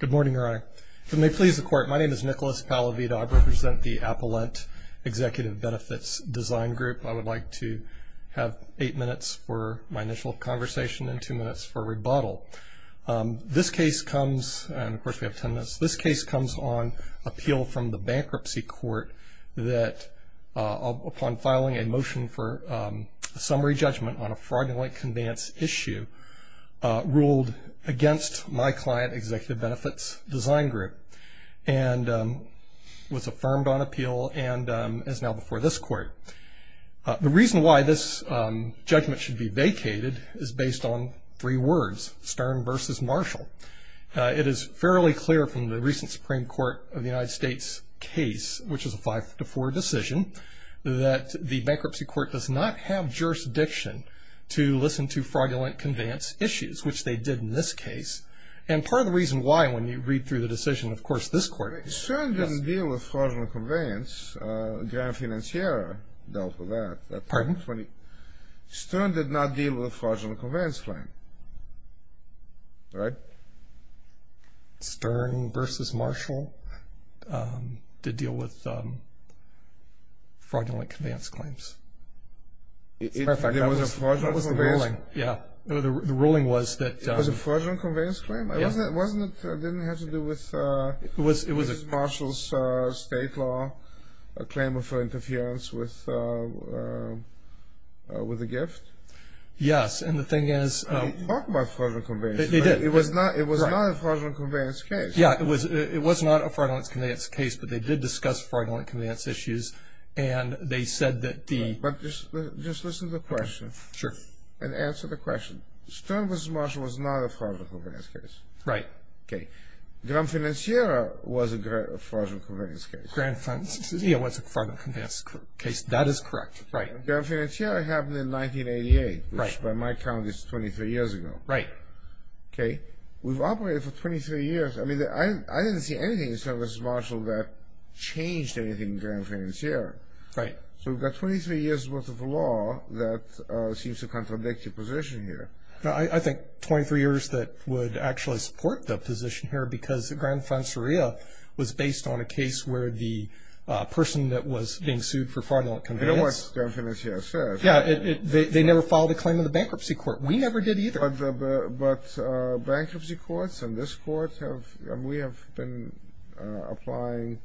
Good morning, Your Honor. If it may please the Court, my name is Nicholas Palavida. I represent the Appellant Executive Benefits Design Group. I would like to have eight minutes for my initial conversation and two minutes for rebuttal. This case comes, and of course we have ten minutes, this case comes on appeal from the Bankruptcy Court that, upon filing a motion for a summary judgment on a fraudulent conveyance issue, ruled against my client, Executive Benefits Design Group, and was affirmed on appeal and is now before this Court. The reason why this judgment should be vacated is based on three words, Stern versus Marshall. It is fairly clear from the recent Supreme Court of the United States case, which is a 5-4 decision, that the Bankruptcy Court does not have jurisdiction to listen to fraudulent conveyance issues, which they did in this case. And part of the reason why, when you read through the decision, of course, this Court... Stern didn't deal with fraudulent conveyance. Grand Financiera dealt with that. Pardon? Stern did not deal with fraudulent conveyance claim. Right? Stern versus Marshall did deal with fraudulent conveyance claims. What was the ruling? The ruling was that... It was a fraudulent conveyance claim? It didn't have to do with Marshall's state law claim for interference with a gift? Yes, and the thing is... They didn't talk about fraudulent conveyance. It was not a fraudulent conveyance case. Yes, it was not a fraudulent conveyance case, but they did discuss fraudulent conveyance issues, and they said that the... But just listen to the question. Sure. And answer the question. Stern versus Marshall was not a fraudulent conveyance case. Right. Grand Financiera was a fraudulent conveyance case. Grand Financiera was a fraudulent conveyance case. That is correct. Grand Financiera happened in 1988, which by my count is 23 years ago. Right. Okay. We've operated for 23 years. I mean, I didn't see anything in Stern versus Marshall that changed anything in Grand Financiera. Right. So we've got 23 years worth of law that seems to contradict your position here. I think 23 years that would actually support the position here because Grand Financiera was based on a case where the person that was being sued for fraudulent conveyance... You know what Grand Financiera said. Yeah, they never filed a claim in the bankruptcy court. We never did either. But bankruptcy courts and this court, we have been applying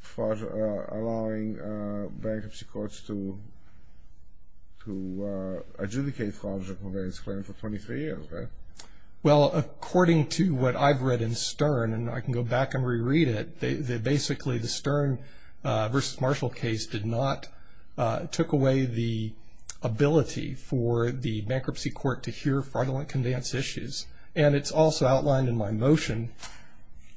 fraud, allowing bankruptcy courts to adjudicate fraudulent conveyance claims for 23 years, right? Well, according to what I've read in Stern, and I can go back and reread it, basically the Stern versus Marshall case did not, took away the ability for the bankruptcy court to hear fraudulent conveyance issues. And it's also outlined in my motion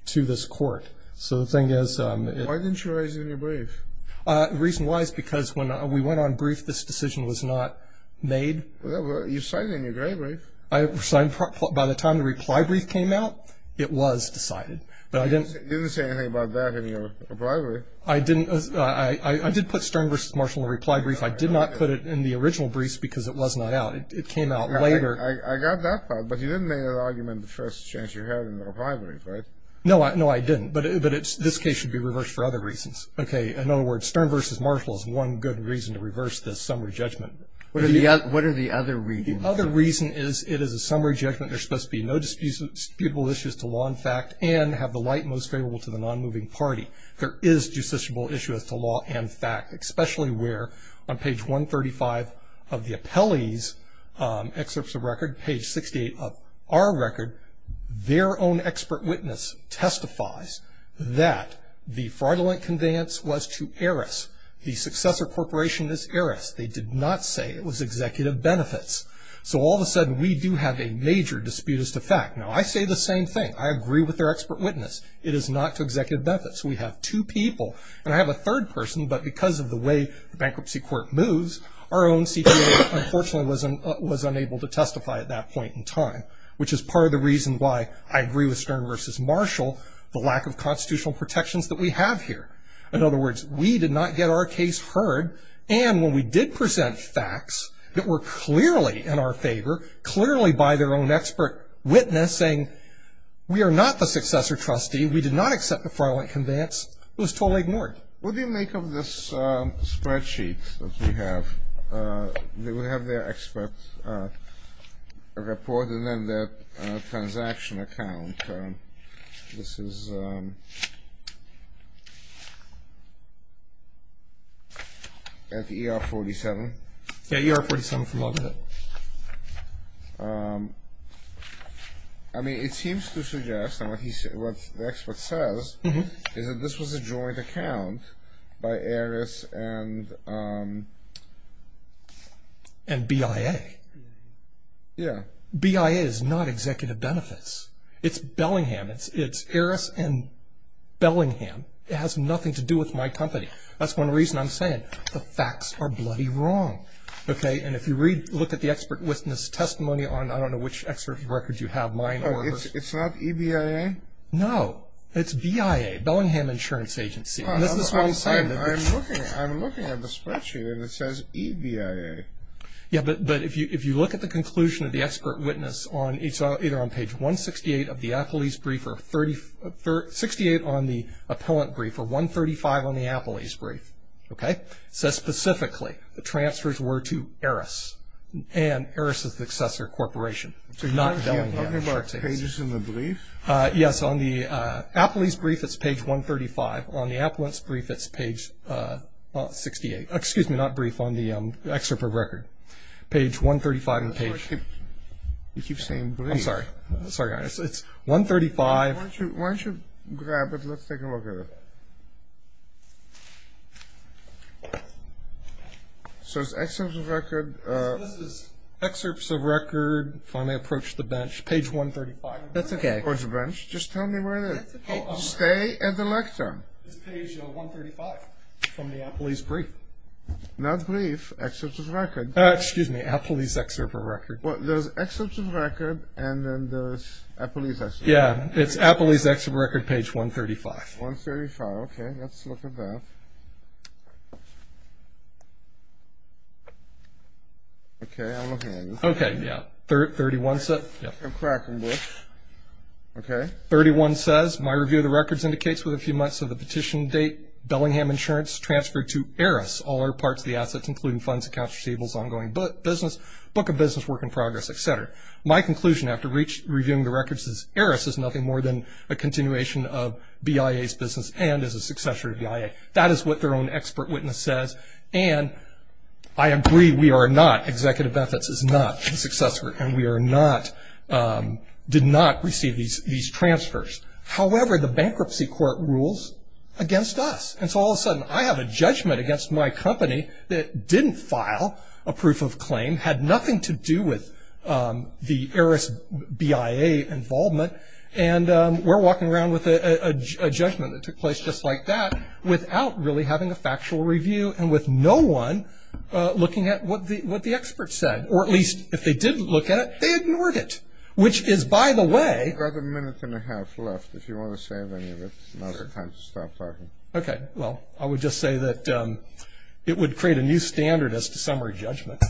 to this court. So the thing is... Why didn't you raise it in your brief? The reason why is because when we went on brief, this decision was not made. You signed it in your brief. By the time the reply brief came out, it was decided. You didn't say anything about that in your reply brief. I did put Stern versus Marshall in the reply brief. I did not put it in the original brief because it was not out. It came out later. I got that part, but you didn't make an argument the first chance you had in the reply brief, right? No, I didn't. But this case should be reversed for other reasons. Okay. In other words, Stern versus Marshall is one good reason to reverse this summary judgment. What are the other reasons? The other reason is it is a summary judgment. There's supposed to be no disputable issues to law and fact and have the light most favorable to the non-moving party. There is justiciable issue as to law and fact, especially where on page 135 of the appellee's excerpts of record, page 68 of our record, their own expert witness testifies that the fraudulent conveyance was to Eris. The successor corporation is Eris. They did not say it was executive benefits. So all of a sudden, we do have a major dispute as to fact. Now, I say the same thing. I agree with their expert witness. It is not to executive benefits. We have two people. And I have a third person, but because of the way the bankruptcy court moves, our own CPA, unfortunately, was unable to testify at that point in time, which is part of the reason why I agree with Stern versus Marshall, the lack of constitutional protections that we have here. In other words, we did not get our case heard, and when we did present facts that were clearly in our favor, clearly by their own expert witness saying we are not the successor trustee, we did not accept the fraudulent conveyance, it was totally ignored. What do you make of this spreadsheet that we have? We have their expert report and then their transaction account. This is at ER 47. Yeah, ER 47 from London. I mean, it seems to suggest, and what the expert says, is that this was a joint account by Eris and BIA. Yeah. BIA is not executive benefits. It's Bellingham. It's Eris and Bellingham. It has nothing to do with my company. That's one reason I'm saying the facts are bloody wrong. Okay? And if you look at the expert witness testimony on, I don't know, which expert record you have, mine or hers. It's not EBIA? No. It's BIA, Bellingham Insurance Agency. I'm looking at the spreadsheet and it says EBIA. Yeah, but if you look at the conclusion of the expert witness it's either on page 168 of the appellee's brief or 68 on the appellant brief or 135 on the appellee's brief. Okay? It says specifically the transfers were to Eris and Eris' successor corporation. So you have all of our pages in the brief? Yes. On the appellee's brief it's page 135. On the appellant's brief it's page 68. Excuse me, not brief, on the expert record, page 135. You keep saying brief. I'm sorry. Sorry, guys. It's 135. Why don't you grab it? Let's take a look at it. So it's excerpts of record. This is excerpts of record, finally approached the bench, page 135. That's okay. Approached the bench. Just tell me where it is. Stay at the lecture. It's page 135 from the appellee's brief. Not brief, excerpts of record. Excuse me, appellee's excerpt of record. Well, there's excerpts of record and then there's appellee's excerpt of record. Yeah, it's appellee's excerpt of record, page 135. 135, okay. Let's look at that. Okay, I'm looking at it. Okay, yeah. 31 says my review of the records indicates with a few months of the petition date, Bellingham insurance transferred to Eris, all other parts of the assets, including funds, accounts receivables, ongoing business, book of business, work in progress, et cetera. My conclusion after reviewing the records is Eris is nothing more than a continuation of BIA's business and is a successor to BIA. That is what their own expert witness says. And I agree, we are not, executive benefits is not the successor, and we are not, did not receive these transfers. However, the bankruptcy court rules against us. And so all of a sudden I have a judgment against my company that didn't file a proof of claim, had nothing to do with the Eris BIA involvement, and we're walking around with a judgment that took place just like that without really having a factual review and with no one looking at what the expert said. Or at least if they did look at it, they ignored it, which is, by the way. You've got a minute and a half left. If you want to save any of it, now's the time to stop talking. Okay. Well, I would just say that it would create a new standard as to summary judgment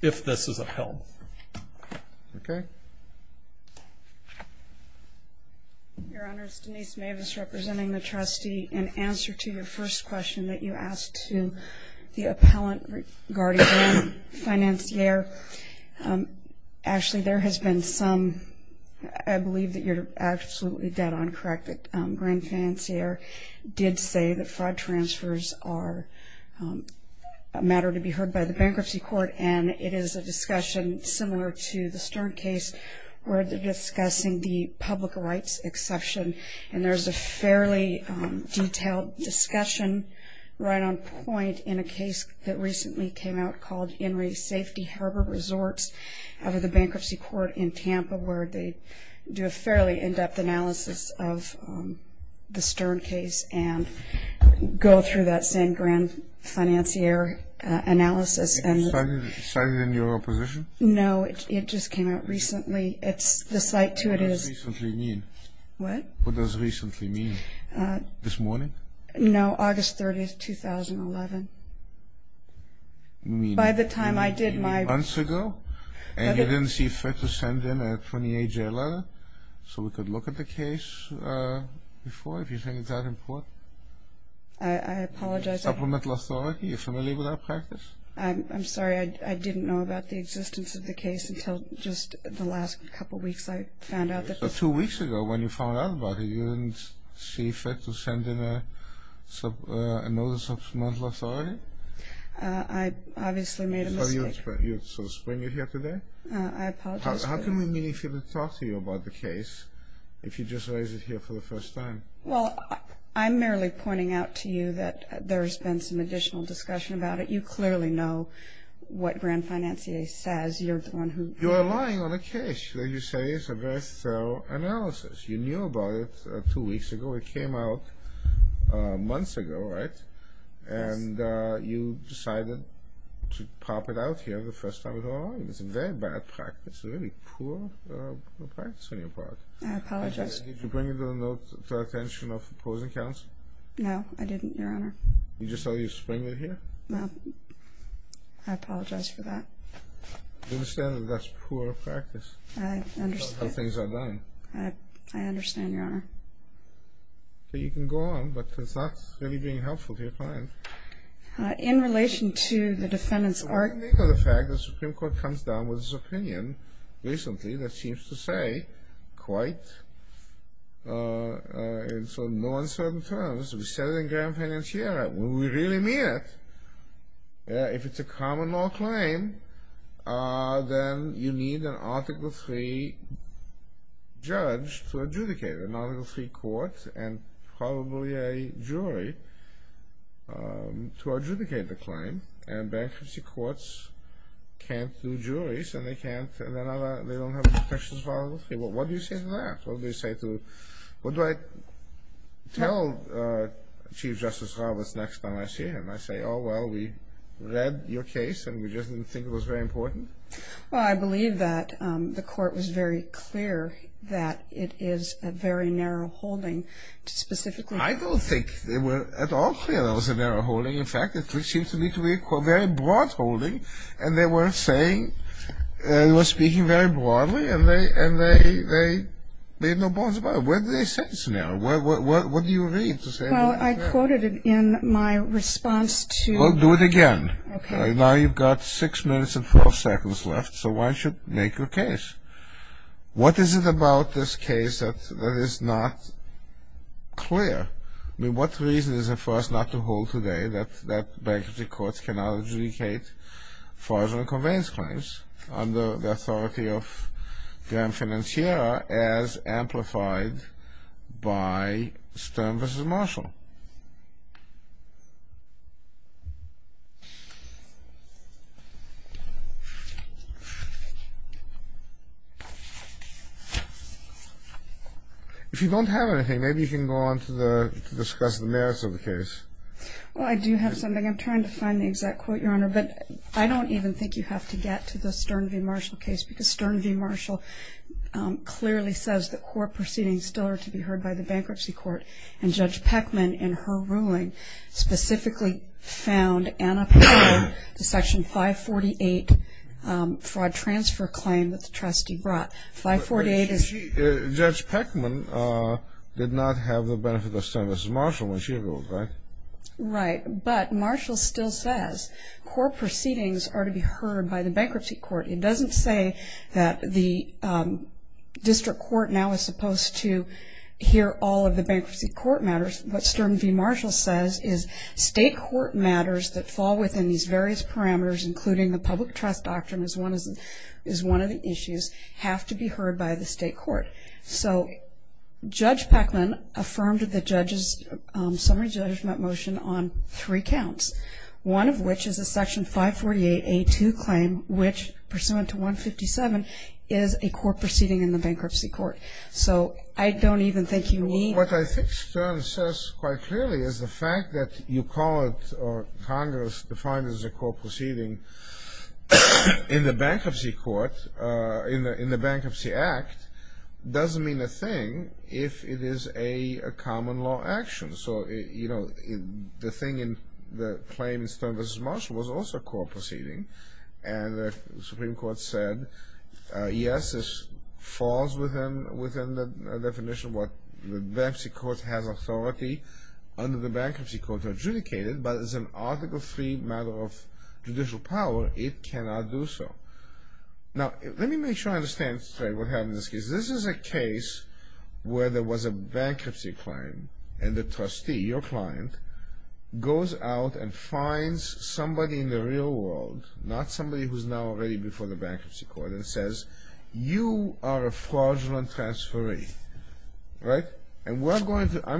if this is upheld. Okay. Your Honor, it's Denise Mavis representing the trustee. In answer to your first question that you asked to the appellant regarding Grand Financier, actually there has been some, I believe that you're absolutely dead on correct, that Grand Financier did say that fraud transfers are a matter to be heard by the bankruptcy court, and it is a discussion similar to the Stern case where they're discussing the public rights exception. And there's a fairly detailed discussion right on point in a case that recently came out called Henry Safety Harbor Resorts out of the bankruptcy court in Tampa where they do a fairly in-depth analysis of the Stern case and go through that same Grand Financier analysis. Did you cite it in your opposition? No, it just came out recently. It's the site to it is. What does recently mean? What? What does recently mean? This morning? No, August 30th, 2011. By the time I did my... Months ago? And you didn't see fit to send in a 28-J letter so we could look at the case before, if you think it's that important? I apologize. Supplemental authority, are you familiar with that practice? I'm sorry, I didn't know about the existence of the case until just the last couple weeks. I found out that... I obviously made a mistake. So spring you're here today? I apologize for that. How come you didn't feel to talk to me about the case if you just raised it here for the first time? Well, I'm merely pointing out to you that there's been some additional discussion about it. You clearly know what Grand Financier says. You're the one who... You're relying on a case that you say is a very thorough analysis. You knew about it two weeks ago. It came out months ago, right? Yes. And you decided to pop it out here the first time at all. It's a very bad practice, a really poor practice on your part. I apologize. Did you bring it to the attention of opposing counsel? No, I didn't, Your Honor. You just saw you spring it here? No. I apologize for that. I understand that that's poor practice. I understand. How things are done. I understand, Your Honor. So you can go on, but it's not really being helpful to your client. In relation to the defendant's argument... Well, when you think of the fact that the Supreme Court comes down with its opinion recently that seems to say, quite in no uncertain terms, we said it in Grand Financier, when we really mean it, if it's a common law claim, then you need an Article III judge to adjudicate it, not an Article III court and probably a jury to adjudicate the claim. And bankruptcy courts can't do juries, and they don't have protections for Article III. What do you say to that? What do I tell Chief Justice Roberts next time I see him? I say, oh, well, we read your case, and we just didn't think it was very important? Well, I believe that the court was very clear that it is a very narrow holding to specifically... I don't think they were at all clear that it was a narrow holding. In fact, it seems to me to be a very broad holding, and they were saying, they were speaking very broadly, and they made no bones about it. Where do they say it's narrow? What do you read? Well, I quoted it in my response to... Well, do it again. Okay. Now you've got six minutes and 12 seconds left, so why don't you make your case? What is it about this case that is not clear? I mean, what reason is there for us not to hold today that bankruptcy courts cannot adjudicate fraudulent conveyance claims under the authority of Graeme Financiera as amplified by Stern v. Marshall? If you don't have anything, maybe you can go on to discuss the merits of the case. Well, I do have something. I'm trying to find the exact quote, Your Honor, but I don't even think you have to get to the Stern v. Marshall case because Stern v. Marshall clearly says that court proceedings still are to be heard by the bankruptcy court, and Judge Peckman, in her ruling, specifically found an appeal to Section 548 fraud transfer claim that the trustee brought. 548 is... Judge Peckman did not have the benefit of Stern v. Marshall when she ruled, right? Right, but Marshall still says court proceedings are to be heard by the bankruptcy court. It doesn't say that the district court now is supposed to hear all of the bankruptcy court matters. What Stern v. Marshall says is state court matters that fall within these various parameters, including the public trust doctrine is one of the issues, have to be heard by the state court. So Judge Peckman affirmed the judge's summary judgment motion on three counts, one of which is a Section 548A2 claim, which, pursuant to 157, is a court proceeding in the bankruptcy court. So I don't even think you need... What Stern says quite clearly is the fact that you call it, or Congress defines it as a court proceeding, in the bankruptcy court, in the Bankruptcy Act, doesn't mean a thing if it is a common law action. So, you know, the thing in the claim in Stern v. Marshall was also a court proceeding, and the Supreme Court said, yes, this falls within the definition of what the bankruptcy court has authority under the bankruptcy court to adjudicate it, but as an Article III matter of judicial power, it cannot do so. Now, let me make sure I understand straight what happened in this case. This is a case where there was a bankruptcy claim, and the trustee, your client, goes out and finds somebody in the real world, not somebody who's now already before the bankruptcy court, and says, you are a fraudulent transferee, right? And I'm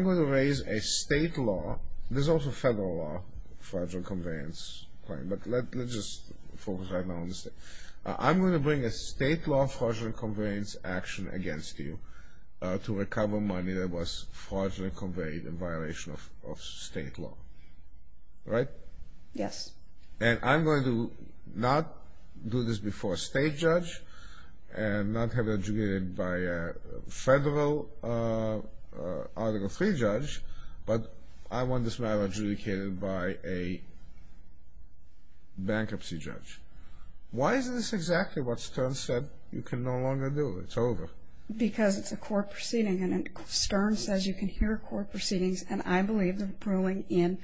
going to raise a state law, there's also federal law, fraudulent conveyance claim, but let's just focus right now on the state. I'm going to bring a state law fraudulent conveyance action against you to recover money that was fraudulent conveyed in violation of state law, right? Yes. And I'm going to not do this before a state judge, and not have it adjudicated by a federal Article III judge, but I want this matter adjudicated by a bankruptcy judge. Why is this exactly what Stern said you can no longer do? It's over. Because it's a court proceeding, and Stern says you can hear court proceedings, and I believe the ruling in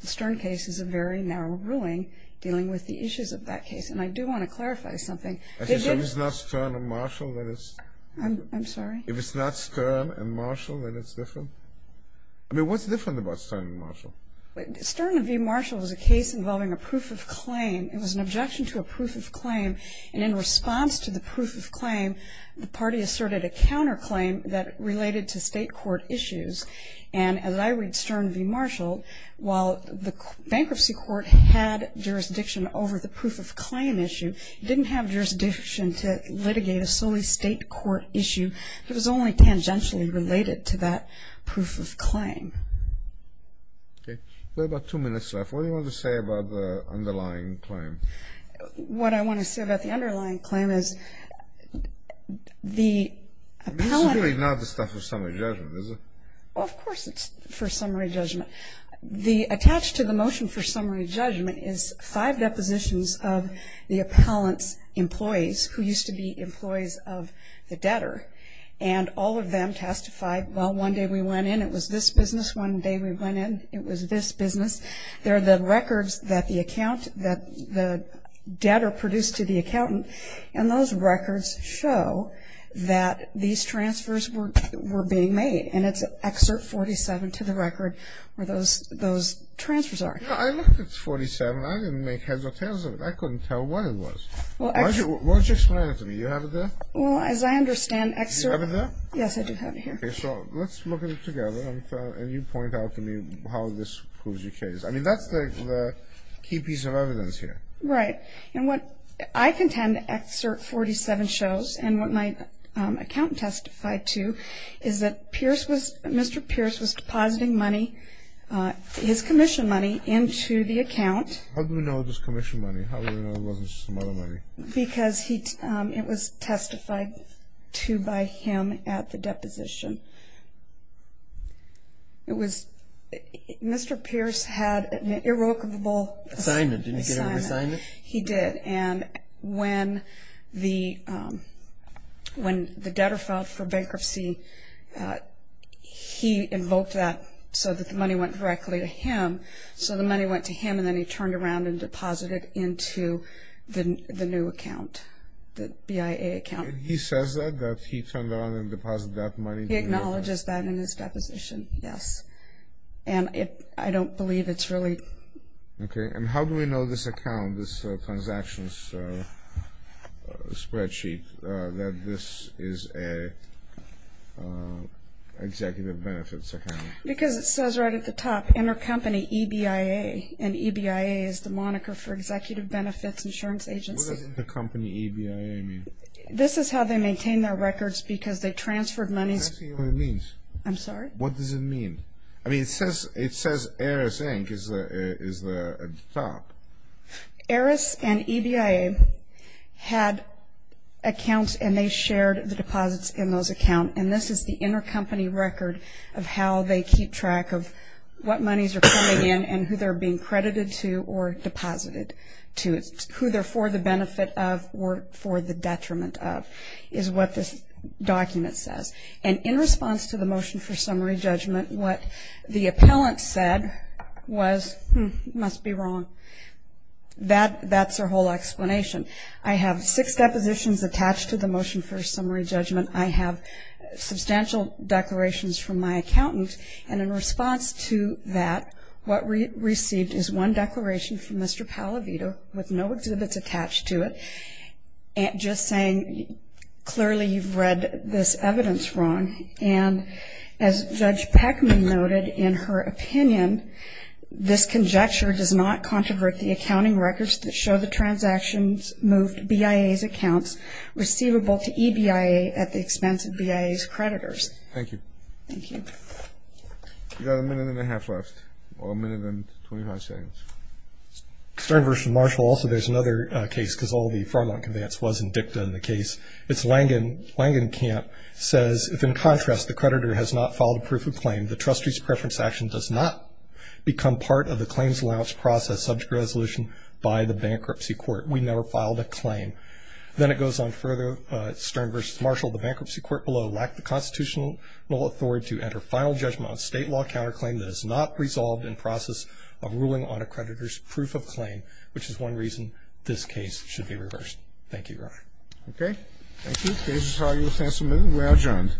the Stern case is a very narrow ruling dealing with the issues of that case. And I do want to clarify something. If it's not Stern and Marshall, then it's different? I'm sorry? If it's not Stern and Marshall, then it's different? I mean, what's different about Stern and Marshall? Stern v. Marshall is a case involving a proof of claim. It was an objection to a proof of claim, and in response to the proof of claim, the party asserted a counterclaim that related to state court issues. And as I read Stern v. Marshall, while the bankruptcy court had jurisdiction over the proof of claim issue, it didn't have jurisdiction to litigate a solely state court issue. It was only tangentially related to that proof of claim. Okay. We have about two minutes left. What do you want to say about the underlying claim? What I want to say about the underlying claim is the appellate — This is really not the stuff for summary judgment, is it? Well, of course it's for summary judgment. The attached to the motion for summary judgment is five depositions of the appellant's employees, who used to be employees of the debtor. And all of them testified, well, one day we went in, it was this business. One day we went in, it was this business. They're the records that the debtor produced to the accountant, and those records show that these transfers were being made. And it's Excerpt 47 to the record where those transfers are. I looked at 47. I didn't make heads or tails of it. I couldn't tell what it was. Why don't you explain it to me? Do you have it there? Well, as I understand Excerpt — Do you have it there? Yes, I do have it here. Okay, so let's look at it together, and you point out to me how this proves your case. I mean, that's the key piece of evidence here. Right. And what I contend Excerpt 47 shows and what my accountant testified to is that Mr. Pierce was depositing money, his commission money, into the account. How do we know it was commission money? How do we know it wasn't some other money? Because it was testified to by him at the deposition. It was — Mr. Pierce had an irrevocable assignment. Assignment. Didn't he get an assignment? He did. And when the debtor filed for bankruptcy, he invoked that so that the money went directly to him. So the money went to him, and then he turned around and deposited into the new account, the BIA account. And he says that, that he turned around and deposited that money? He acknowledges that in his deposition, yes. And I don't believe it's really — Okay, and how do we know this account, this transactions spreadsheet, that this is an executive benefits account? Because it says right at the top, Intercompany EBIA, and EBIA is the moniker for Executive Benefits Insurance Agency. What does Intercompany EBIA mean? This is how they maintain their records because they transferred money. I see what it means. I'm sorry? What does it mean? I mean, it says Aris Inc. is the top. Aris and EBIA had accounts, and they shared the deposits in those accounts, and this is the intercompany record of how they keep track of what monies are coming in and who they're being credited to or deposited to, who they're for the benefit of or for the detriment of, is what this document says. And in response to the motion for summary judgment, what the appellant said was, hmm, must be wrong. That's their whole explanation. I have six depositions attached to the motion for summary judgment. I have substantial declarations from my accountant. And in response to that, what we received is one declaration from Mr. Pallavito, with no exhibits attached to it, just saying clearly you've read this evidence wrong. And as Judge Peckman noted in her opinion, this conjecture does not controvert the accounting records that show the transactions moved, BIA's accounts receivable to EBIA at the expense of BIA's creditors. Thank you. Thank you. You've got a minute and a half left, or a minute and 25 seconds. Attorney General Marshall, also there's another case, because all of the Fairmont complaints was in dicta in the case. It's Langenkamp says, if in contrast the creditor has not filed a proof of claim, the trustee's preference action does not become part of the claims allowance process subject resolution by the bankruptcy court. We never filed a claim. Then it goes on further, Stern v. Marshall, the bankruptcy court below lacked the constitutional authority to enter final judgment on state law counterclaim that is not resolved in process of ruling on a creditor's proof of claim, which is one reason this case should be reversed. Thank you, Your Honor. Okay. Thank you. Case is argued. Thanks a million. We are adjourned. All rise. This court for this session stands adjourned.